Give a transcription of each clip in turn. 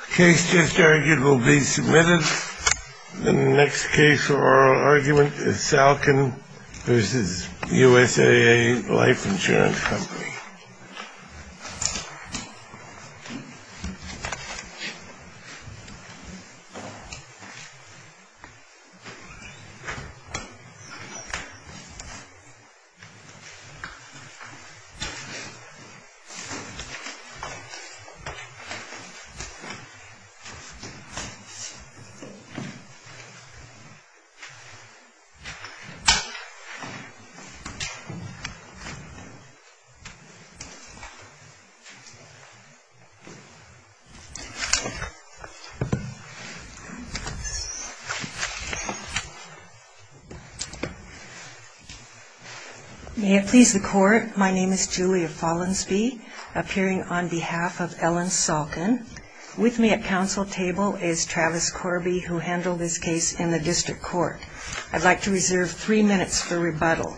The case just argued will be submitted. The next case for oral argument is Salkin v. USAA Life Insurance Company. May it please the Court, my name is Julia Follansbee, appearing on behalf of Ellen Salkin. With me at counsel table is Travis Corby, who handled this case in the District Court. I'd like to reserve three minutes for rebuttal.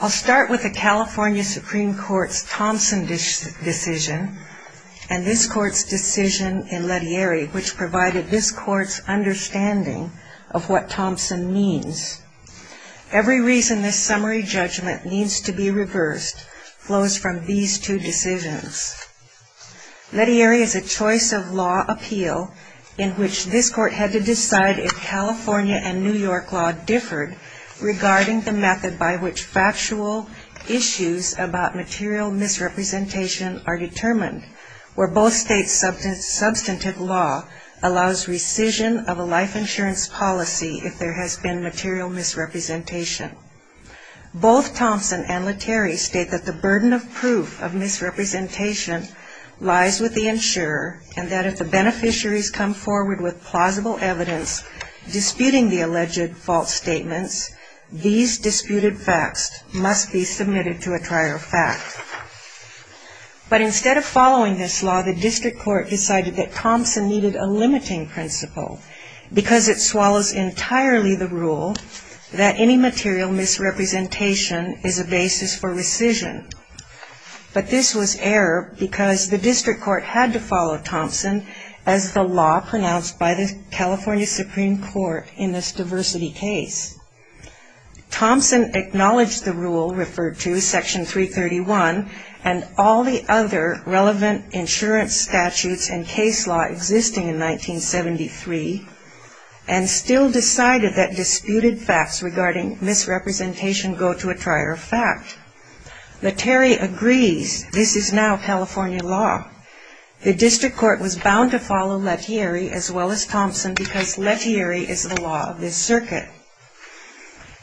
I'll start with the California Supreme Court's Thompson decision and this Court's decision in Lettieri, which provided this Court's understanding of what Thompson means. Every reason this summary judgment needs to be reversed flows from these two decisions. Lettieri is a choice of law appeal in which this Court had to decide if California and New York law differed regarding the method by which factual issues about material misrepresentation are determined, where both states' substantive law allows rescission of a life insurance policy if there has been material misrepresentation. Both Thompson and Lettieri state that the burden of proof of misrepresentation lies with the insurer and that if the beneficiaries come forward with plausible evidence disputing the alleged false statements, these disputed facts must be submitted to a trial fact. But instead of following this law, the District Court decided that Thompson needed a limiting principle because it swallows entirely the rule that any material misrepresentation is a basis for rescission. But this was error because the District Court had to follow Thompson as the law pronounced by the California Supreme Court in this diversity case. Thompson acknowledged the rule referred to, Section 331, and all the other relevant insurance statutes and case law existing in 1973, and still decided that disputed facts regarding misrepresentation go to a trial fact. Lettieri agrees this is now California law. The District Court was bound to follow Lettieri as well as Thompson because Lettieri is the law of this circuit.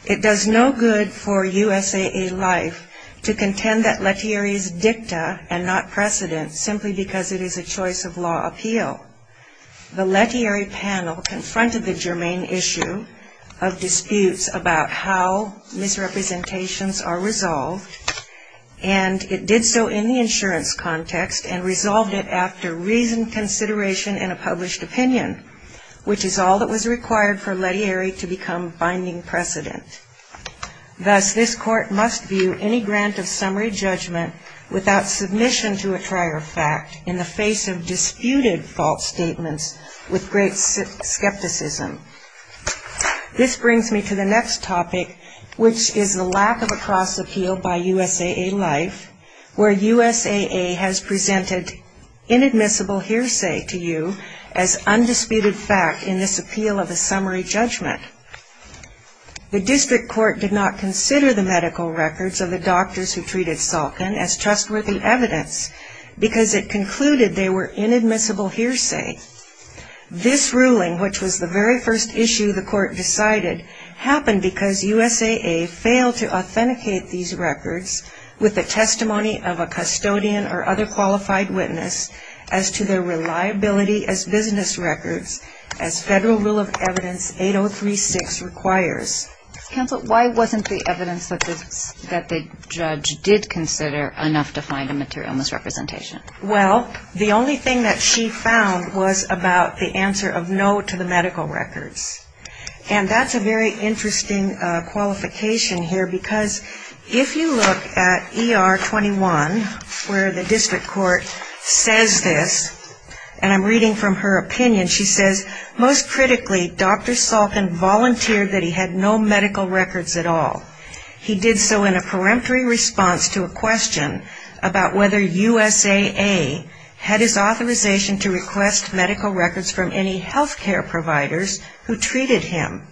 It does no good for USAA Life to contend that Lettieri is dicta and not precedent simply because it is a choice of law appeal. The Lettieri panel confronted the germane issue of disputes about how misrepresentations are resolved, and it did so in the insurance context and resolved it after reasoned consideration in a published opinion, which is all that was required for Lettieri to become binding precedent. Thus, this court must view any grant of summary judgment without submission to a trial fact in the face of disputed false statements with great skepticism. This brings me to the next topic, which is the lack of a cross appeal by USAA Life, where USAA has presented inadmissible hearsay to you as undisputed fact in this appeal of a summary judgment. The District Court did not consider the medical records of the doctors who treated Salkin as trustworthy evidence because it concluded they were inadmissible hearsay. This ruling, which was the very first issue the court decided, happened because USAA failed to authenticate these records with the testimony of a custodian or other qualified witness as to their reliability as business records as Federal Rule of Evidence 8036 requires. Counsel, why wasn't the evidence that the judge did consider enough to find a material misrepresentation? Well, the only thing that she found was about the answer of no to the medical records, and that's a very interesting qualification here because if you look at ER 21, where the District Court says this, and I'm reading from her opinion, she says, most critically, Dr. Salkin volunteered that he had no medical records at all. He did so in a peremptory response to a question about whether USAA had his authorization to request medical records from any healthcare providers who treated him.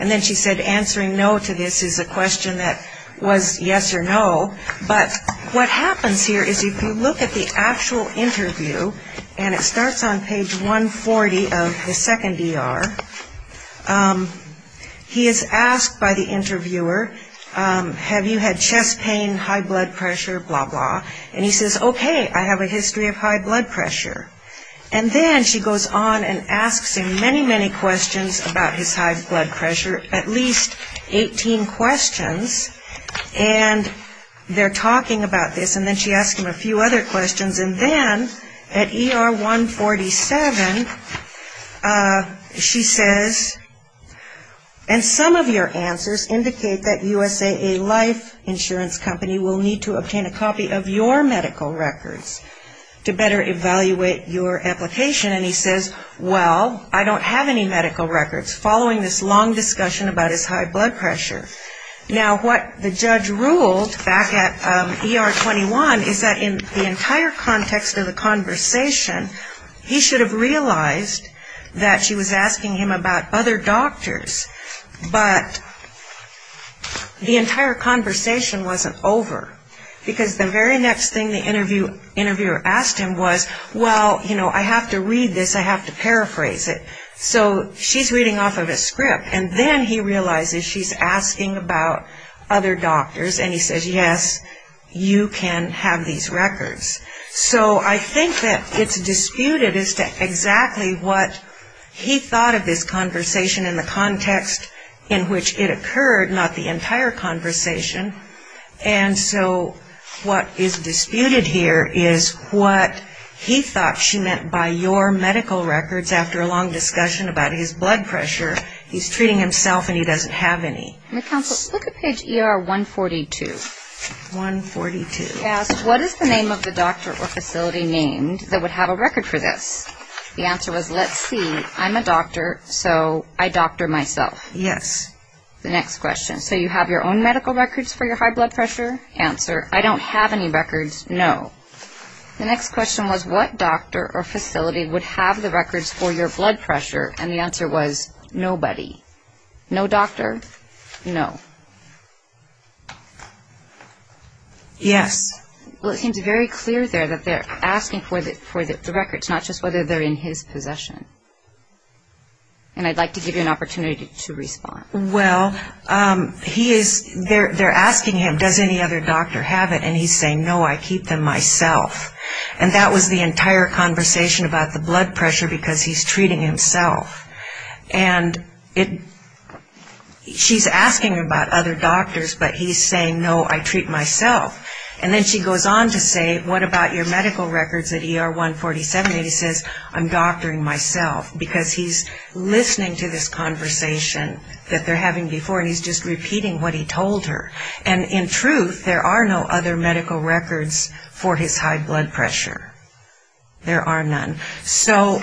And then she said answering no to this is a question that was yes or no, but what happens here is if you look at the actual interview, and it starts on page 140 of the second ER, he is asked by the interviewer, have you had chest pain, high blood pressure, blah, blah, and he says, okay, I have a history of high blood pressure. And then she goes on and asks him many, many questions about his high blood pressure, at least 18 questions, and they're talking about this, and then she asks him a few other questions, and then at ER 147, she says, and some of your answers indicate that USAA Life Insurance Company will need to obtain a copy of your medical records to better evaluate your application. And he says, well, I don't have any medical records, following this long discussion about his high blood pressure. Now, what the judge ruled back at ER 21 is that in the entire context of the conversation, he should have realized that she was asking him about other doctors, but the entire conversation wasn't over, because the very next thing the interviewer asked him was, well, you know, I have to read this, I have to paraphrase it. So she's reading off of a script, and then he realizes she's asking about other doctors, and he says, yes, you can have these records. So I think that it's disputed as to exactly what he thought of this conversation in the context in which it occurred, not the entire conversation. And so what is disputed here is what he thought she meant by your medical records after a long discussion about his blood pressure. He's treating himself, and he doesn't have any. Look at page ER 142. 142. He asked, what is the name of the doctor or facility named that would have a record for this? The answer was, let's see, I'm a doctor, so I doctor myself. Yes. The next question, so you have your own medical records for your high blood pressure? Answer, I don't have any records, no. The next question was, what doctor or facility would have the records for your blood pressure? And the answer was, nobody. No doctor, no. Yes. Well, it seems very clear there that they're asking for the records, not just whether they're in his possession. And I'd like to give you an opportunity to respond. Well, they're asking him, does any other doctor have it? And he's saying, no, I keep them myself. And that was the entire conversation about the blood pressure because he's treating himself. And she's asking about other doctors, but he's saying, no, I treat myself. And then she goes on to say, what about your medical records at ER 147? And he says, I'm doctoring myself, because he's listening to this conversation that they're having before, and he's just repeating what he told her. And in truth, there are no other medical records for his high blood pressure. There are none. So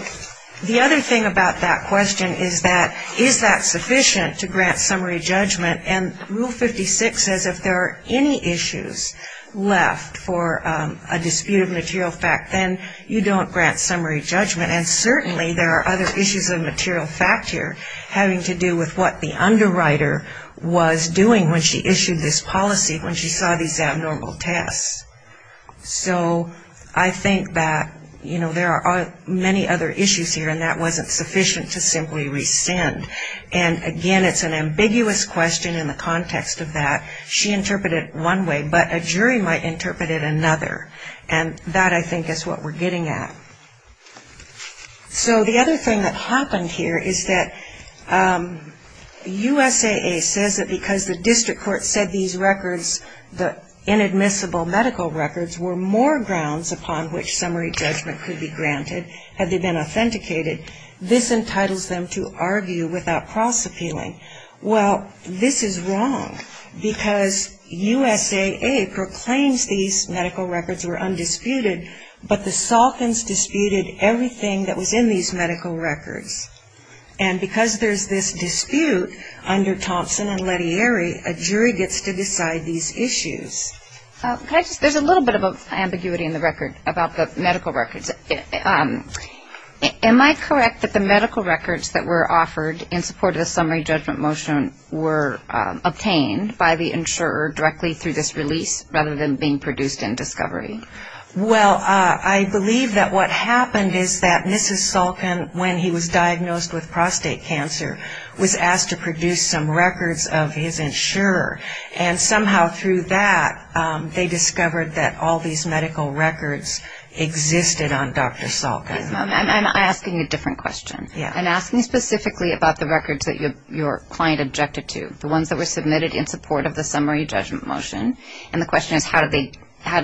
the other thing about that question is that, is that sufficient to grant summary judgment? And Rule 56 says if there are any issues left for a dispute of material fact, then you don't grant summary judgment. And certainly there are other issues of material fact here having to do with what the underwriter was doing when she issued this policy, when she saw these abnormal tests. So I think that, you know, there are many other issues here, and that wasn't sufficient to simply rescind. And, again, it's an ambiguous question in the context of that. She interpreted it one way, but a jury might interpret it another. And that, I think, is what we're getting at. So the other thing that happened here is that USAA says that because the district court said these records, the inadmissible medical records, were more grounds upon which summary judgment could be granted had they been authenticated, this entitles them to argue without cross-appealing. Well, this is wrong because USAA proclaims these medical records were undisputed, but the Salkins disputed everything that was in these medical records. And because there's this dispute under Thompson and Lettieri, a jury gets to decide these issues. There's a little bit of ambiguity in the record about the medical records. Am I correct that the medical records that were offered in support of the summary judgment motion were obtained by the insurer directly through this release rather than being produced in discovery? Well, I believe that what happened is that Mrs. Salkin, when he was diagnosed with prostate cancer, was asked to produce some records of his insurer. And somehow through that, they discovered that all these medical records existed on Dr. Salkin. I'm asking a different question. I'm asking specifically about the records that your client objected to, the ones that were submitted in support of the summary judgment motion. And the question is, how did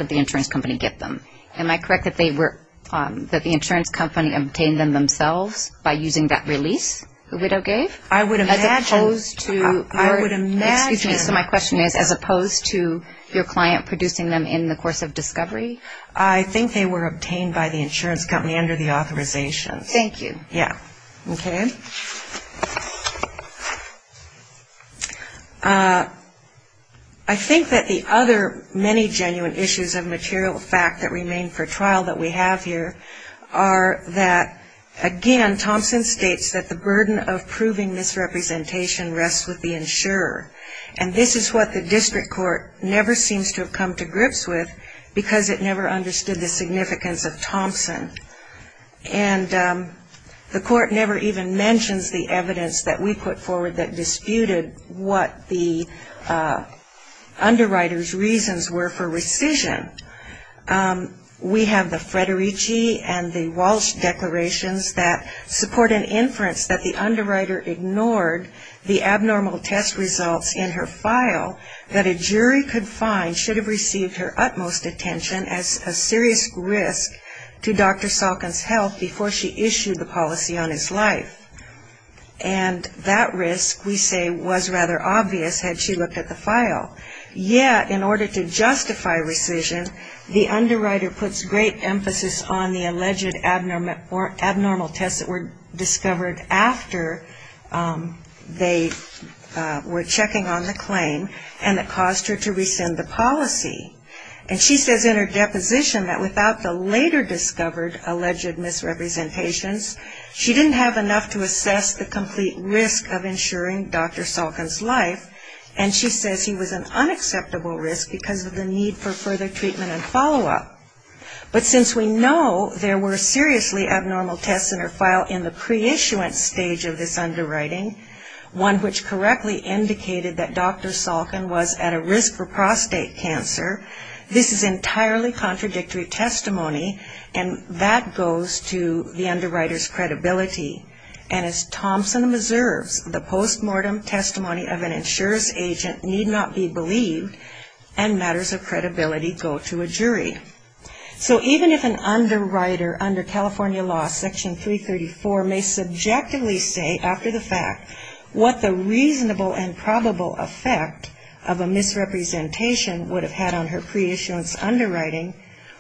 the insurance company get them? Am I correct that the insurance company obtained them themselves by using that release the widow gave? I would imagine. Excuse me, so my question is, as opposed to your client producing them in the course of discovery? I think they were obtained by the insurance company under the authorizations. Thank you. Yeah. Okay. I think that the other many genuine issues of material fact that remain for trial that we have here are that, again, Thompson states that the burden of proving misrepresentation rests with the insurer. And this is what the district court never seems to have come to grips with because it never understood the significance of Thompson. And the court never even mentions the evidence that we put forward that disputed what the underwriter's reasons were for rescission. We have the Federici and the Walsh declarations that support an inference that the underwriter ignored the abnormal test results in her file that a jury could find should have received her utmost attention as a serious risk to Dr. Salkin. And that risk, we say, was rather obvious had she looked at the file. Yet, in order to justify rescission, the underwriter puts great emphasis on the alleged abnormal tests that were discovered after they were checking on the claim and it caused her to rescind the policy. And she says in her deposition that without the later discovered alleged misrepresentations, she didn't have enough to assess the complete risk of insuring Dr. Salkin's life, and she says he was an unacceptable risk because of the need for further treatment and follow-up. But since we know there were seriously abnormal tests in her file in the pre-issuance stage of this underwriting, one which correctly indicated that Dr. Salkin was at a risk for prostate cancer, this is entirely contradictory testimony, and that goes to the underwriter's credibility. And as Thompson observes, the post-mortem testimony of an insurance agent need not be believed, and matters of credibility go to a jury. So even if an underwriter under California law section 334 may subjectively say after the fact what the reasonable and probable effect of a misrepresentation would have had on her pre-issuance underwriting,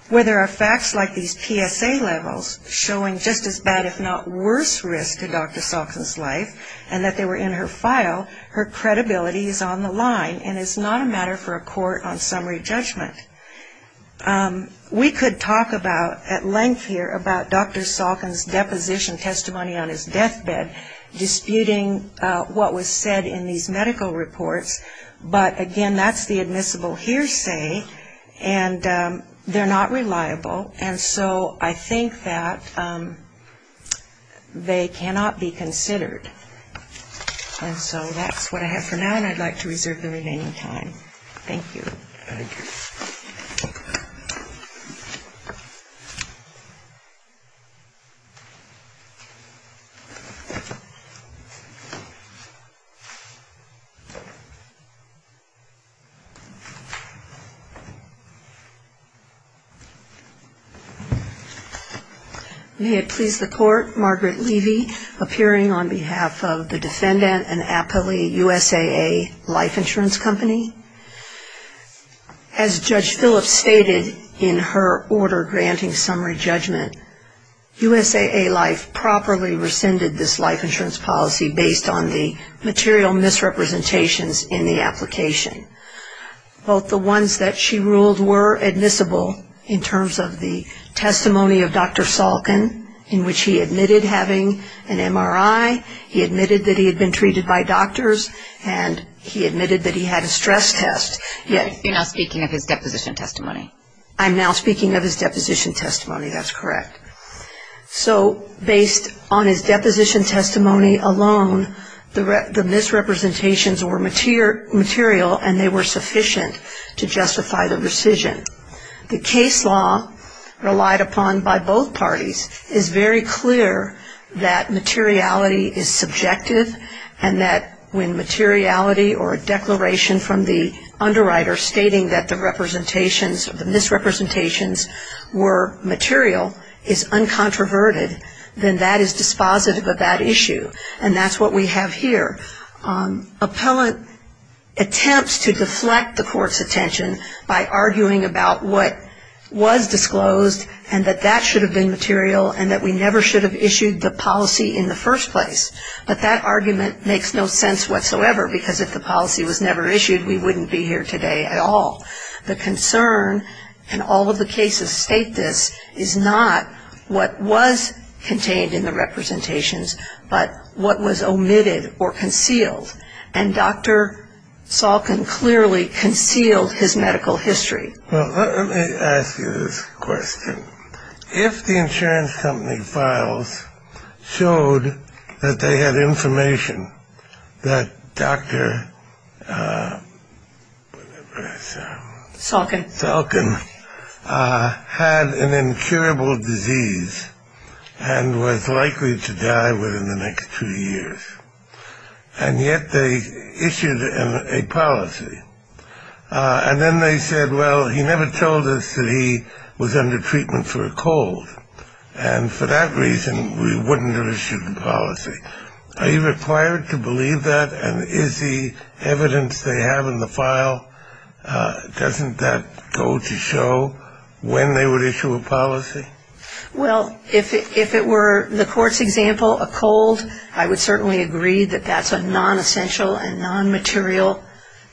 whether facts like these PSA levels showing just as bad, if not worse, risk to Dr. Salkin's life and that they were in her file, her credibility is on the line and is not a matter for a court on summary judgment. We could talk about, at length here, about Dr. Salkin's deposition testimony on his deathbed, disputing what was said in these medical reports, but again, that's the admissible hearsay, and they're not reliable, and so I think that they cannot be considered. And so that's what I have for now, and I'd like to reserve the remaining time. Thank you. Thank you. May it please the Court, Margaret Levy, appearing on behalf of the defendant and aptly USAA Life Insurance Company. As Judge Phillips stated in her order granting summary judgment, USAA Life properly rescinded this life insurance policy based on the material misrepresentations in the application. Both the ones that she ruled were admissible in terms of the testimony of Dr. Salkin, in which he admitted having an MRI, he admitted that he had been treated by doctors, and he admitted that he had a stress test, and he admitted that he had been treated by doctors. You're now speaking of his deposition testimony. I'm now speaking of his deposition testimony. That's correct. So based on his deposition testimony alone, the misrepresentations were material, and they were sufficient to justify the rescission. The case law relied upon by both parties is very clear that materiality is subjective, and that when materiality or a declaration from the underwriter stating that the representations or the misrepresentations were material is uncontroverted, then that is dispositive of that issue. And that's what we have here. Appellant attempts to deflect the court's attention by arguing about what was disclosed, and that that should have been material, and that we never should have issued the policy in the first place. But that argument makes no sense whatsoever, because if the policy was never issued, we wouldn't be here today at all. The concern in all of the cases state this is not what was contained in the representations, but what was omitted or concealed, and Dr. Salkin clearly concealed his medical history. Well, let me ask you this question. If the insurance company files showed that they had information that Dr. Salkin had an incurable disease and was likely to die within the next two years, and yet they issued a policy, and then they said, well, he never told us that he was under treatment for a cold, and for that reason we wouldn't have issued the policy, are you required to believe that? And is the evidence they have in the file, doesn't that go to show when they would issue a policy? Well, if it were the court's example, a cold, I would certainly agree that that's a nonessential and nonmaterial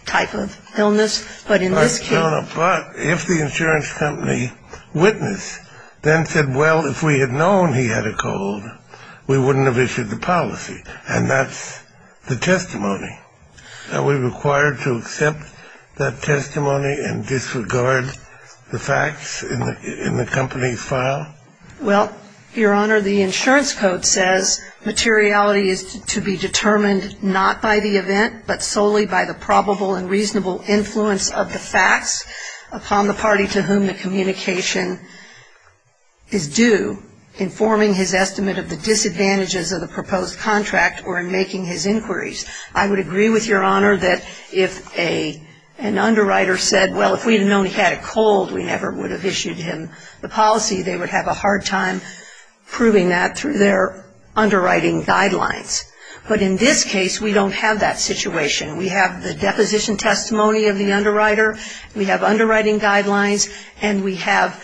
type of illness, but in this case... But, if the insurance company witnessed, then said, well, if we had known he had a cold, we wouldn't have issued the policy, and that's the testimony. Are we required to accept that testimony and disregard the facts in the company's file? Well, Your Honor, the insurance code says materiality is to be determined not by the event, but solely by the probable and reasonable influence of the facts upon the party to whom the communication is due in forming his estimate of the disadvantages of the proposed contract or in making his inquiries. I would agree with Your Honor that if an underwriter said, well, if we had known he had a cold, we never would have issued him the policy, they would have a hard time proving that through their underwriting guidelines, but in this case, we don't have that situation. We have the deposition testimony of the underwriter, we have underwriting guidelines, and we have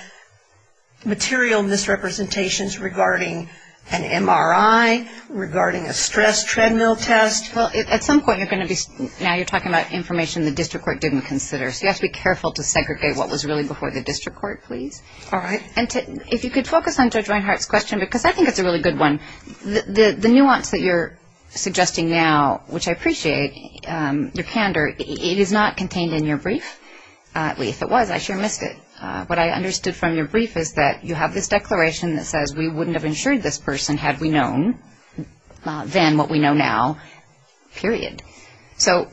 material misrepresentations regarding an MRI, regarding a stress treadmill test. Well, at some point, now you're talking about information the district court didn't consider, so you have to be careful to segregate what was really before the district court, please. And if you could focus on Judge Reinhart's question, because I think it's a really good one. The nuance that you're suggesting now, which I appreciate your candor, it is not contained in your brief. If it was, I sure missed it. What I understood from your brief is that you have this declaration that says we wouldn't have insured this person had we known then what we know now, period. So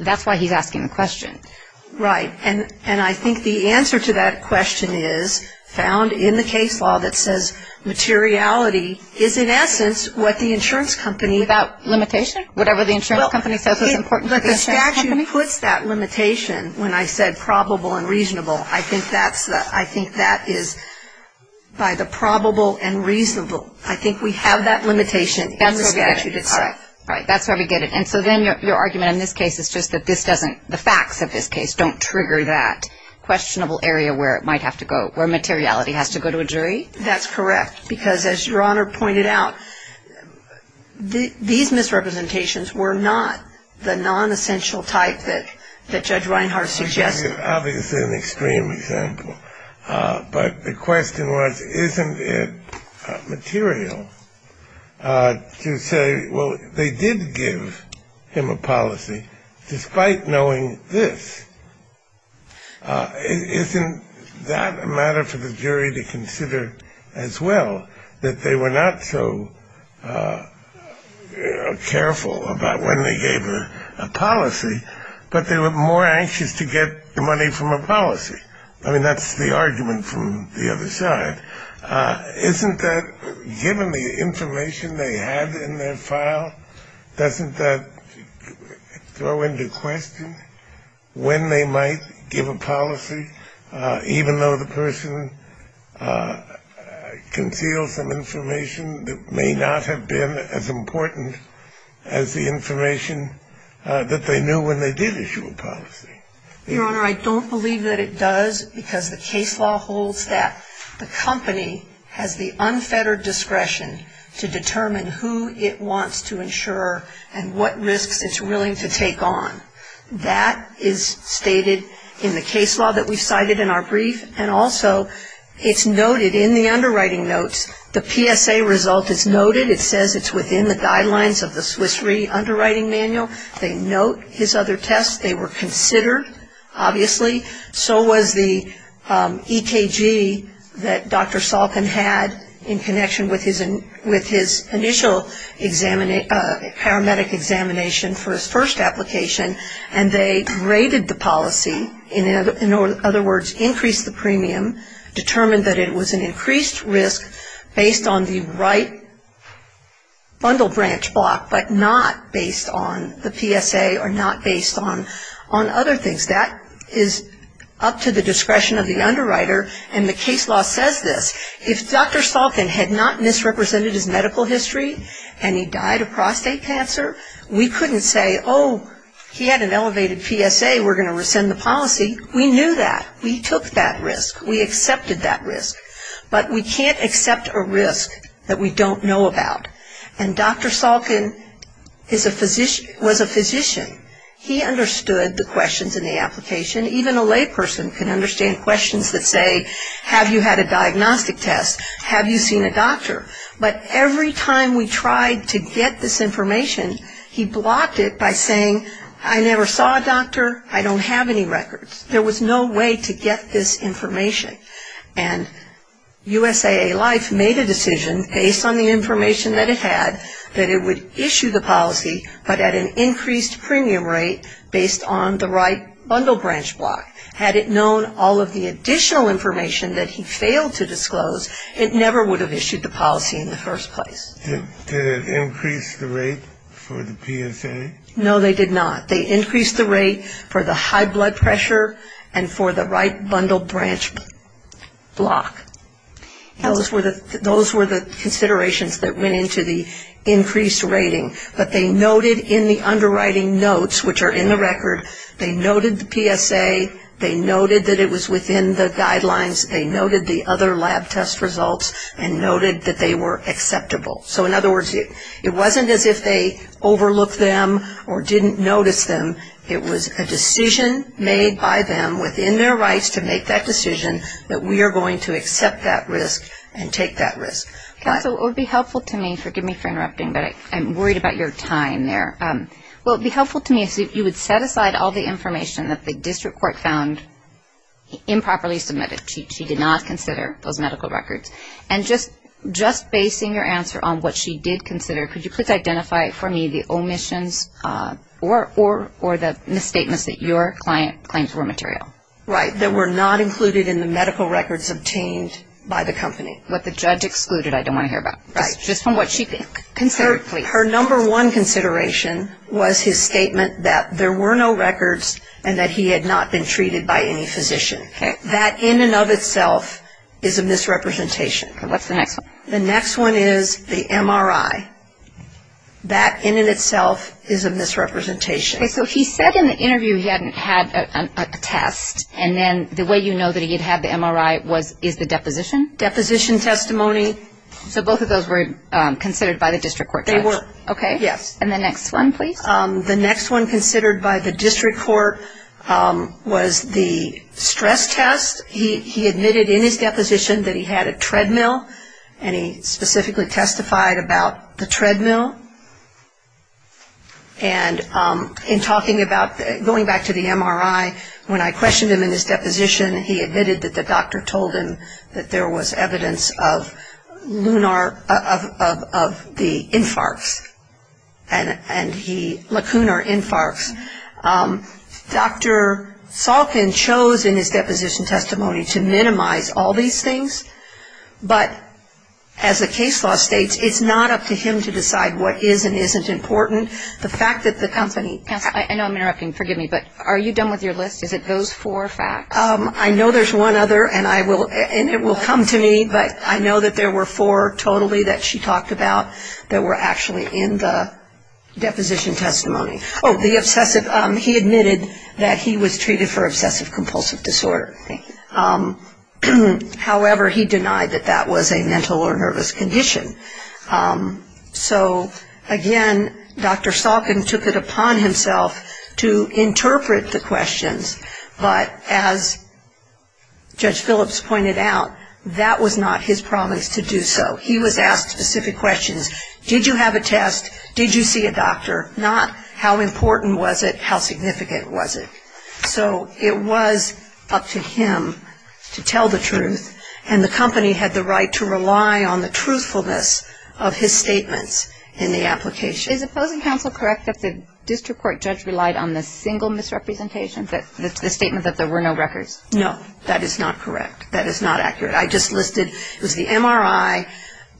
that's why he's asking the question. Right. And I think the answer to that question is found in the case law that says materiality is in essence what the insurance company Without limitation? Whatever the insurance company says is important to the insurance company? But the statute puts that limitation when I said probable and reasonable. I think that is, by the probable and reasonable, I think we have that limitation in the statute itself. All right. That's where we get it. And so then your argument in this case is just that this doesn't, the facts of this case don't trigger that questionable area where it might have to go, where materiality has to go to a jury? That's correct. Because as Your Honor pointed out, these misrepresentations were not the nonessential type that Judge Reinhart suggested. Obviously an extreme example. But the question was, isn't it material to say, well, they did give him a policy despite knowing this? Isn't that a matter for the jury to consider as well, that they were not so careful about when they gave him a policy, but they were more anxious to get the money from a policy? I mean, that's the argument from the other side. Isn't that, given the information they had in their file, doesn't that throw into question when they might give a policy, even though the person concealed some information that may not have been as important as the information that they knew when they did issue a policy? Your Honor, I don't believe that it does, because the case law holds that the company has the unfettered discretion to determine who it wants to insure and what risks it's willing to take on. That is stated in the case law that we cited in our brief. And also it's noted in the underwriting notes, the PSA result is noted. It says it's within the guidelines of the Swiss Re underwriting manual. They note his other tests. They were considered, obviously. So was the EKG that Dr. Salkin had in connection with his initial paramedic examination for his first application. And they graded the policy, in other words, increased the premium, determined that it was an increased risk based on the right bundle branch block, but not based on the PSA or not based on other things. That is up to the discretion of the underwriter, and the case law says this. If Dr. Salkin had not misrepresented his medical history and he died of prostate cancer, we couldn't say, oh, he had an elevated PSA, we're going to rescind the policy. We knew that. We took that risk. We accepted that risk. But we can't accept a risk that we don't know about. And Dr. Salkin was a physician. He understood the questions in the application. Even a layperson can understand questions that say, have you had a diagnostic test? Have you seen a doctor? But every time we tried to get this information, he blocked it by saying, I never saw a doctor. I don't have any records. There was no way to get this information. And USAA Life made a decision based on the information that it had that it would issue the policy, but at an increased premium rate based on the right bundle branch block. Had it known all of the additional information that he failed to disclose, it never would have issued the policy in the first place. Did it increase the rate for the PSA? No, they did not. They increased the rate for the high blood pressure and for the right bundle branch block. Those were the considerations that went into the increased rating. But they noted in the underwriting notes, which are in the record, they noted the PSA, they noted that it was within the guidelines, they noted the other lab test results, and noted that they were acceptable. So in other words, it wasn't as if they overlooked them or didn't notice them. It was a decision made by them within their rights to make that decision that we are going to accept that risk and take that risk. Counsel, it would be helpful to me, forgive me for interrupting, but I'm worried about your time there. Well, it would be helpful to me if you would set aside all the information that the district court found improperly submitted. She did not consider those medical records. And just basing your answer on what she did consider, could you please identify for me the omissions or the misstatements that your client claims were material? Right, that were not included in the medical records obtained by the company. What the judge excluded, I don't want to hear about. Just from what she considered, please. Her number one consideration was his statement that there were no records and that he had not been treated by any physician. That in and of itself is a misrepresentation. What's the next one? The next one is the MRI. That in and of itself is a misrepresentation. Okay, so he said in the interview he hadn't had a test, and then the way you know that he had had the MRI is the deposition? Deposition testimony. So both of those were considered by the district court judge? They were. Okay. Yes. And the next one, please. The next one considered by the district court was the stress test. He admitted in his deposition that he had a treadmill, and he specifically testified about the treadmill. And in talking about going back to the MRI, when I questioned him in his deposition, he admitted that the doctor told him that there was evidence of the infarcts, and lacunar infarcts. Dr. Salkin chose in his deposition testimony to minimize all these things, but as the case law states, it's not up to him to decide what is and isn't important. The fact that the company ---- Counsel, I know I'm interrupting, forgive me, but are you done with your list? Is it those four facts? I know there's one other, and it will come to me, but I know that there were four totally that she talked about that were actually in the deposition testimony. Oh, he admitted that he was treated for obsessive-compulsive disorder. However, he denied that that was a mental or nervous condition. So, again, Dr. Salkin took it upon himself to interpret the questions, but as Judge Phillips pointed out, that was not his promise to do so. He was asked specific questions. Did you have a test? Did you see a doctor? Not how important was it, how significant was it? So it was up to him to tell the truth, and the company had the right to rely on the truthfulness of his statements in the application. Is opposing counsel correct that the district court judge relied on the single misrepresentation, the statement that there were no records? No. That is not correct. That is not accurate. I just listed it was the MRI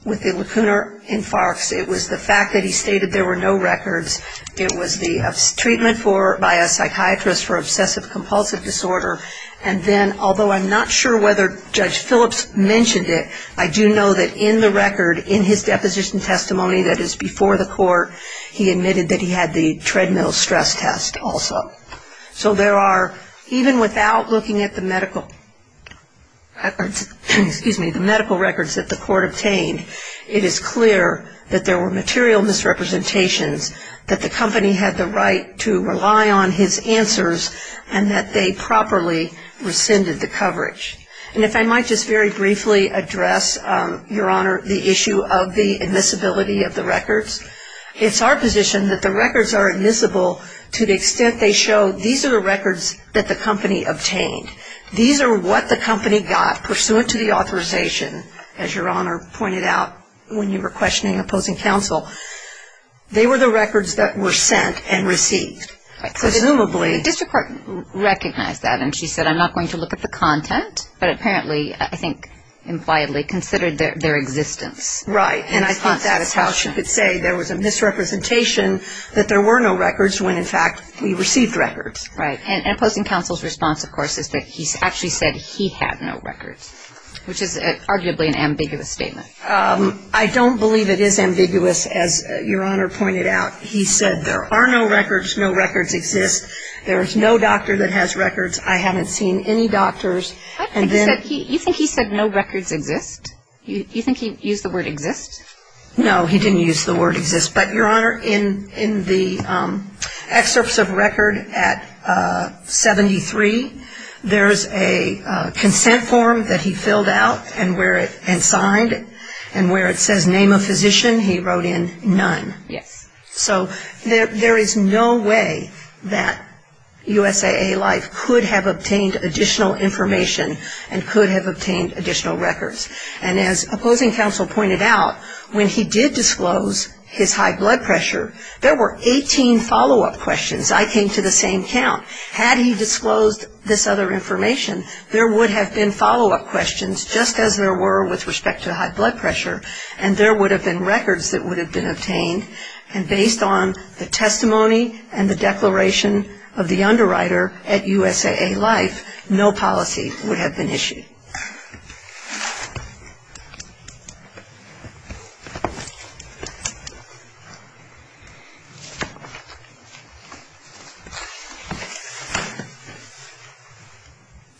with the lacunar infarcts. It was the fact that he stated there were no records. It was the treatment by a psychiatrist for obsessive-compulsive disorder, and then although I'm not sure whether Judge Phillips mentioned it, I do know that in the record in his deposition testimony that is before the court, he admitted that he had the treadmill stress test also. So there are, even without looking at the medical records that the court obtained, it is clear that there were material misrepresentations, that the company had the right to rely on his answers, and that they properly rescinded the coverage. And if I might just very briefly address, Your Honor, the issue of the admissibility of the records. It's our position that the records are admissible to the extent they show these are the records that the company obtained. These are what the company got pursuant to the authorization, as Your Honor pointed out, when you were questioning opposing counsel. They were the records that were sent and received. Presumably. The district court recognized that, and she said I'm not going to look at the content, but apparently I think impliedly considered their existence. Right. And I think that is how she could say there was a misrepresentation that there were no records, when in fact we received records. Right. And opposing counsel's response, of course, is that he actually said he had no records, which is arguably an ambiguous statement. I don't believe it is ambiguous. As Your Honor pointed out, he said there are no records. No records exist. There is no doctor that has records. I haven't seen any doctors. You think he said no records exist? You think he used the word exist? No, he didn't use the word exist. But, Your Honor, in the excerpts of record at 73, there is a consent form that he filled out and signed, and where it says name of physician, he wrote in none. Yes. So there is no way that USAA Life could have obtained additional information and could have obtained additional records. And as opposing counsel pointed out, when he did disclose his high blood pressure, there were 18 follow-up questions. I came to the same count. Had he disclosed this other information, there would have been follow-up questions just as there were with respect to high blood pressure, and there would have been records that would have been obtained. And based on the testimony and the declaration of the underwriter at USAA Life, no policy would have been issued.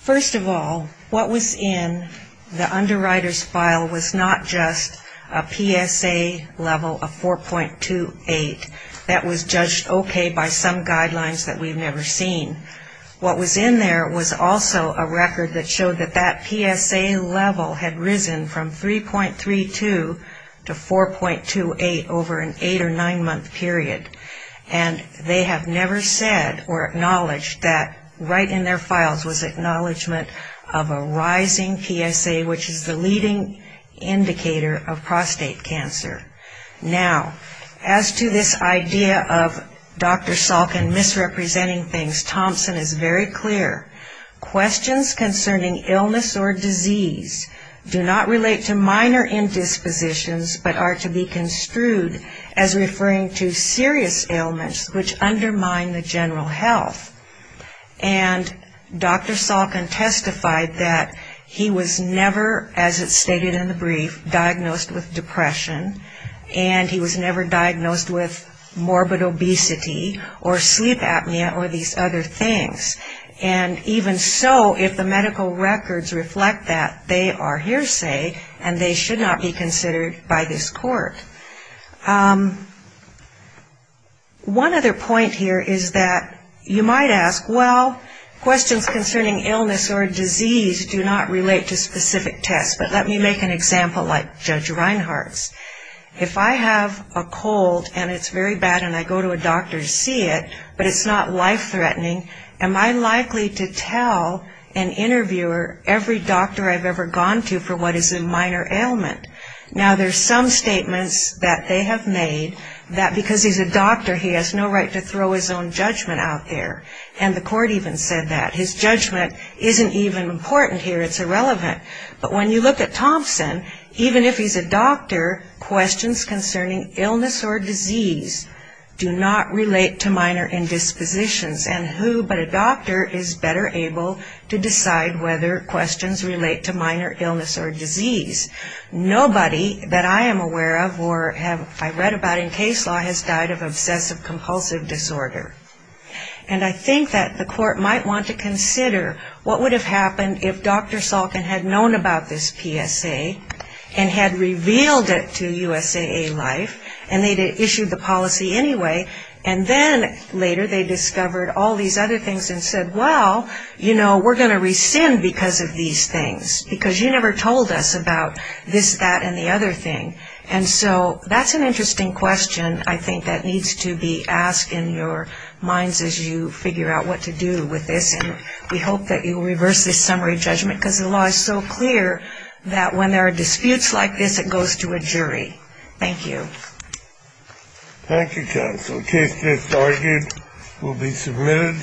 First of all, what was in the underwriter's file was not just a PSA level of 4.28 that was judged okay by some guidelines that we've never seen. What was in there was also a record that showed that that PSA level had risen from 3.32 to 4.28 over an eight- or nine-month period. And they have never said or acknowledged that right in their files was acknowledgement of a rising PSA, which is the leading indicator of prostate cancer. Now, as to this idea of Dr. Salkin misrepresenting things, Thompson is very clear. Questions concerning illness or disease do not relate to minor indispositions, but are to be construed as referring to serious ailments which undermine the general health. And Dr. Salkin testified that he was never, as it's stated in the brief, diagnosed with depression, and he was never diagnosed with morbid obesity or sleep apnea or these other things. And even so, if the medical records reflect that, they are hearsay, and they should not be considered by this court. One other point here is that you might ask, well, questions concerning illness or disease do not relate to specific tests. But let me make an example like Judge Reinhart's. If I have a cold and it's very bad and I go to a doctor to see it, but it's not life-threatening, am I likely to tell an interviewer every doctor I've ever gone to for what is a minor ailment? Now, there's some statements that they have made that because he's a doctor, he has no right to throw his own judgment out there. And the court even said that. His judgment isn't even important here. It's irrelevant. But when you look at Thompson, even if he's a doctor, questions concerning illness or disease do not relate to minor indispositions. And who but a doctor is better able to decide whether questions relate to minor illness or disease? Nobody that I am aware of or have read about in case law has died of obsessive compulsive disorder. And I think that the court might want to consider what would have happened if Dr. Salkin had known about this PSA and had revealed it to USAA Life and they'd have issued the policy anyway. And then later they discovered all these other things and said, well, you know, we're going to rescind because of these things because you never told us about this, that, and the other thing. And so that's an interesting question, I think, that needs to be asked in your minds as you figure out what to do with this. And we hope that you will reverse this summary judgment because the law is so clear that when there are disputes like this, it goes to a jury. Thank you. Thank you, counsel. Case just argued will be submitted.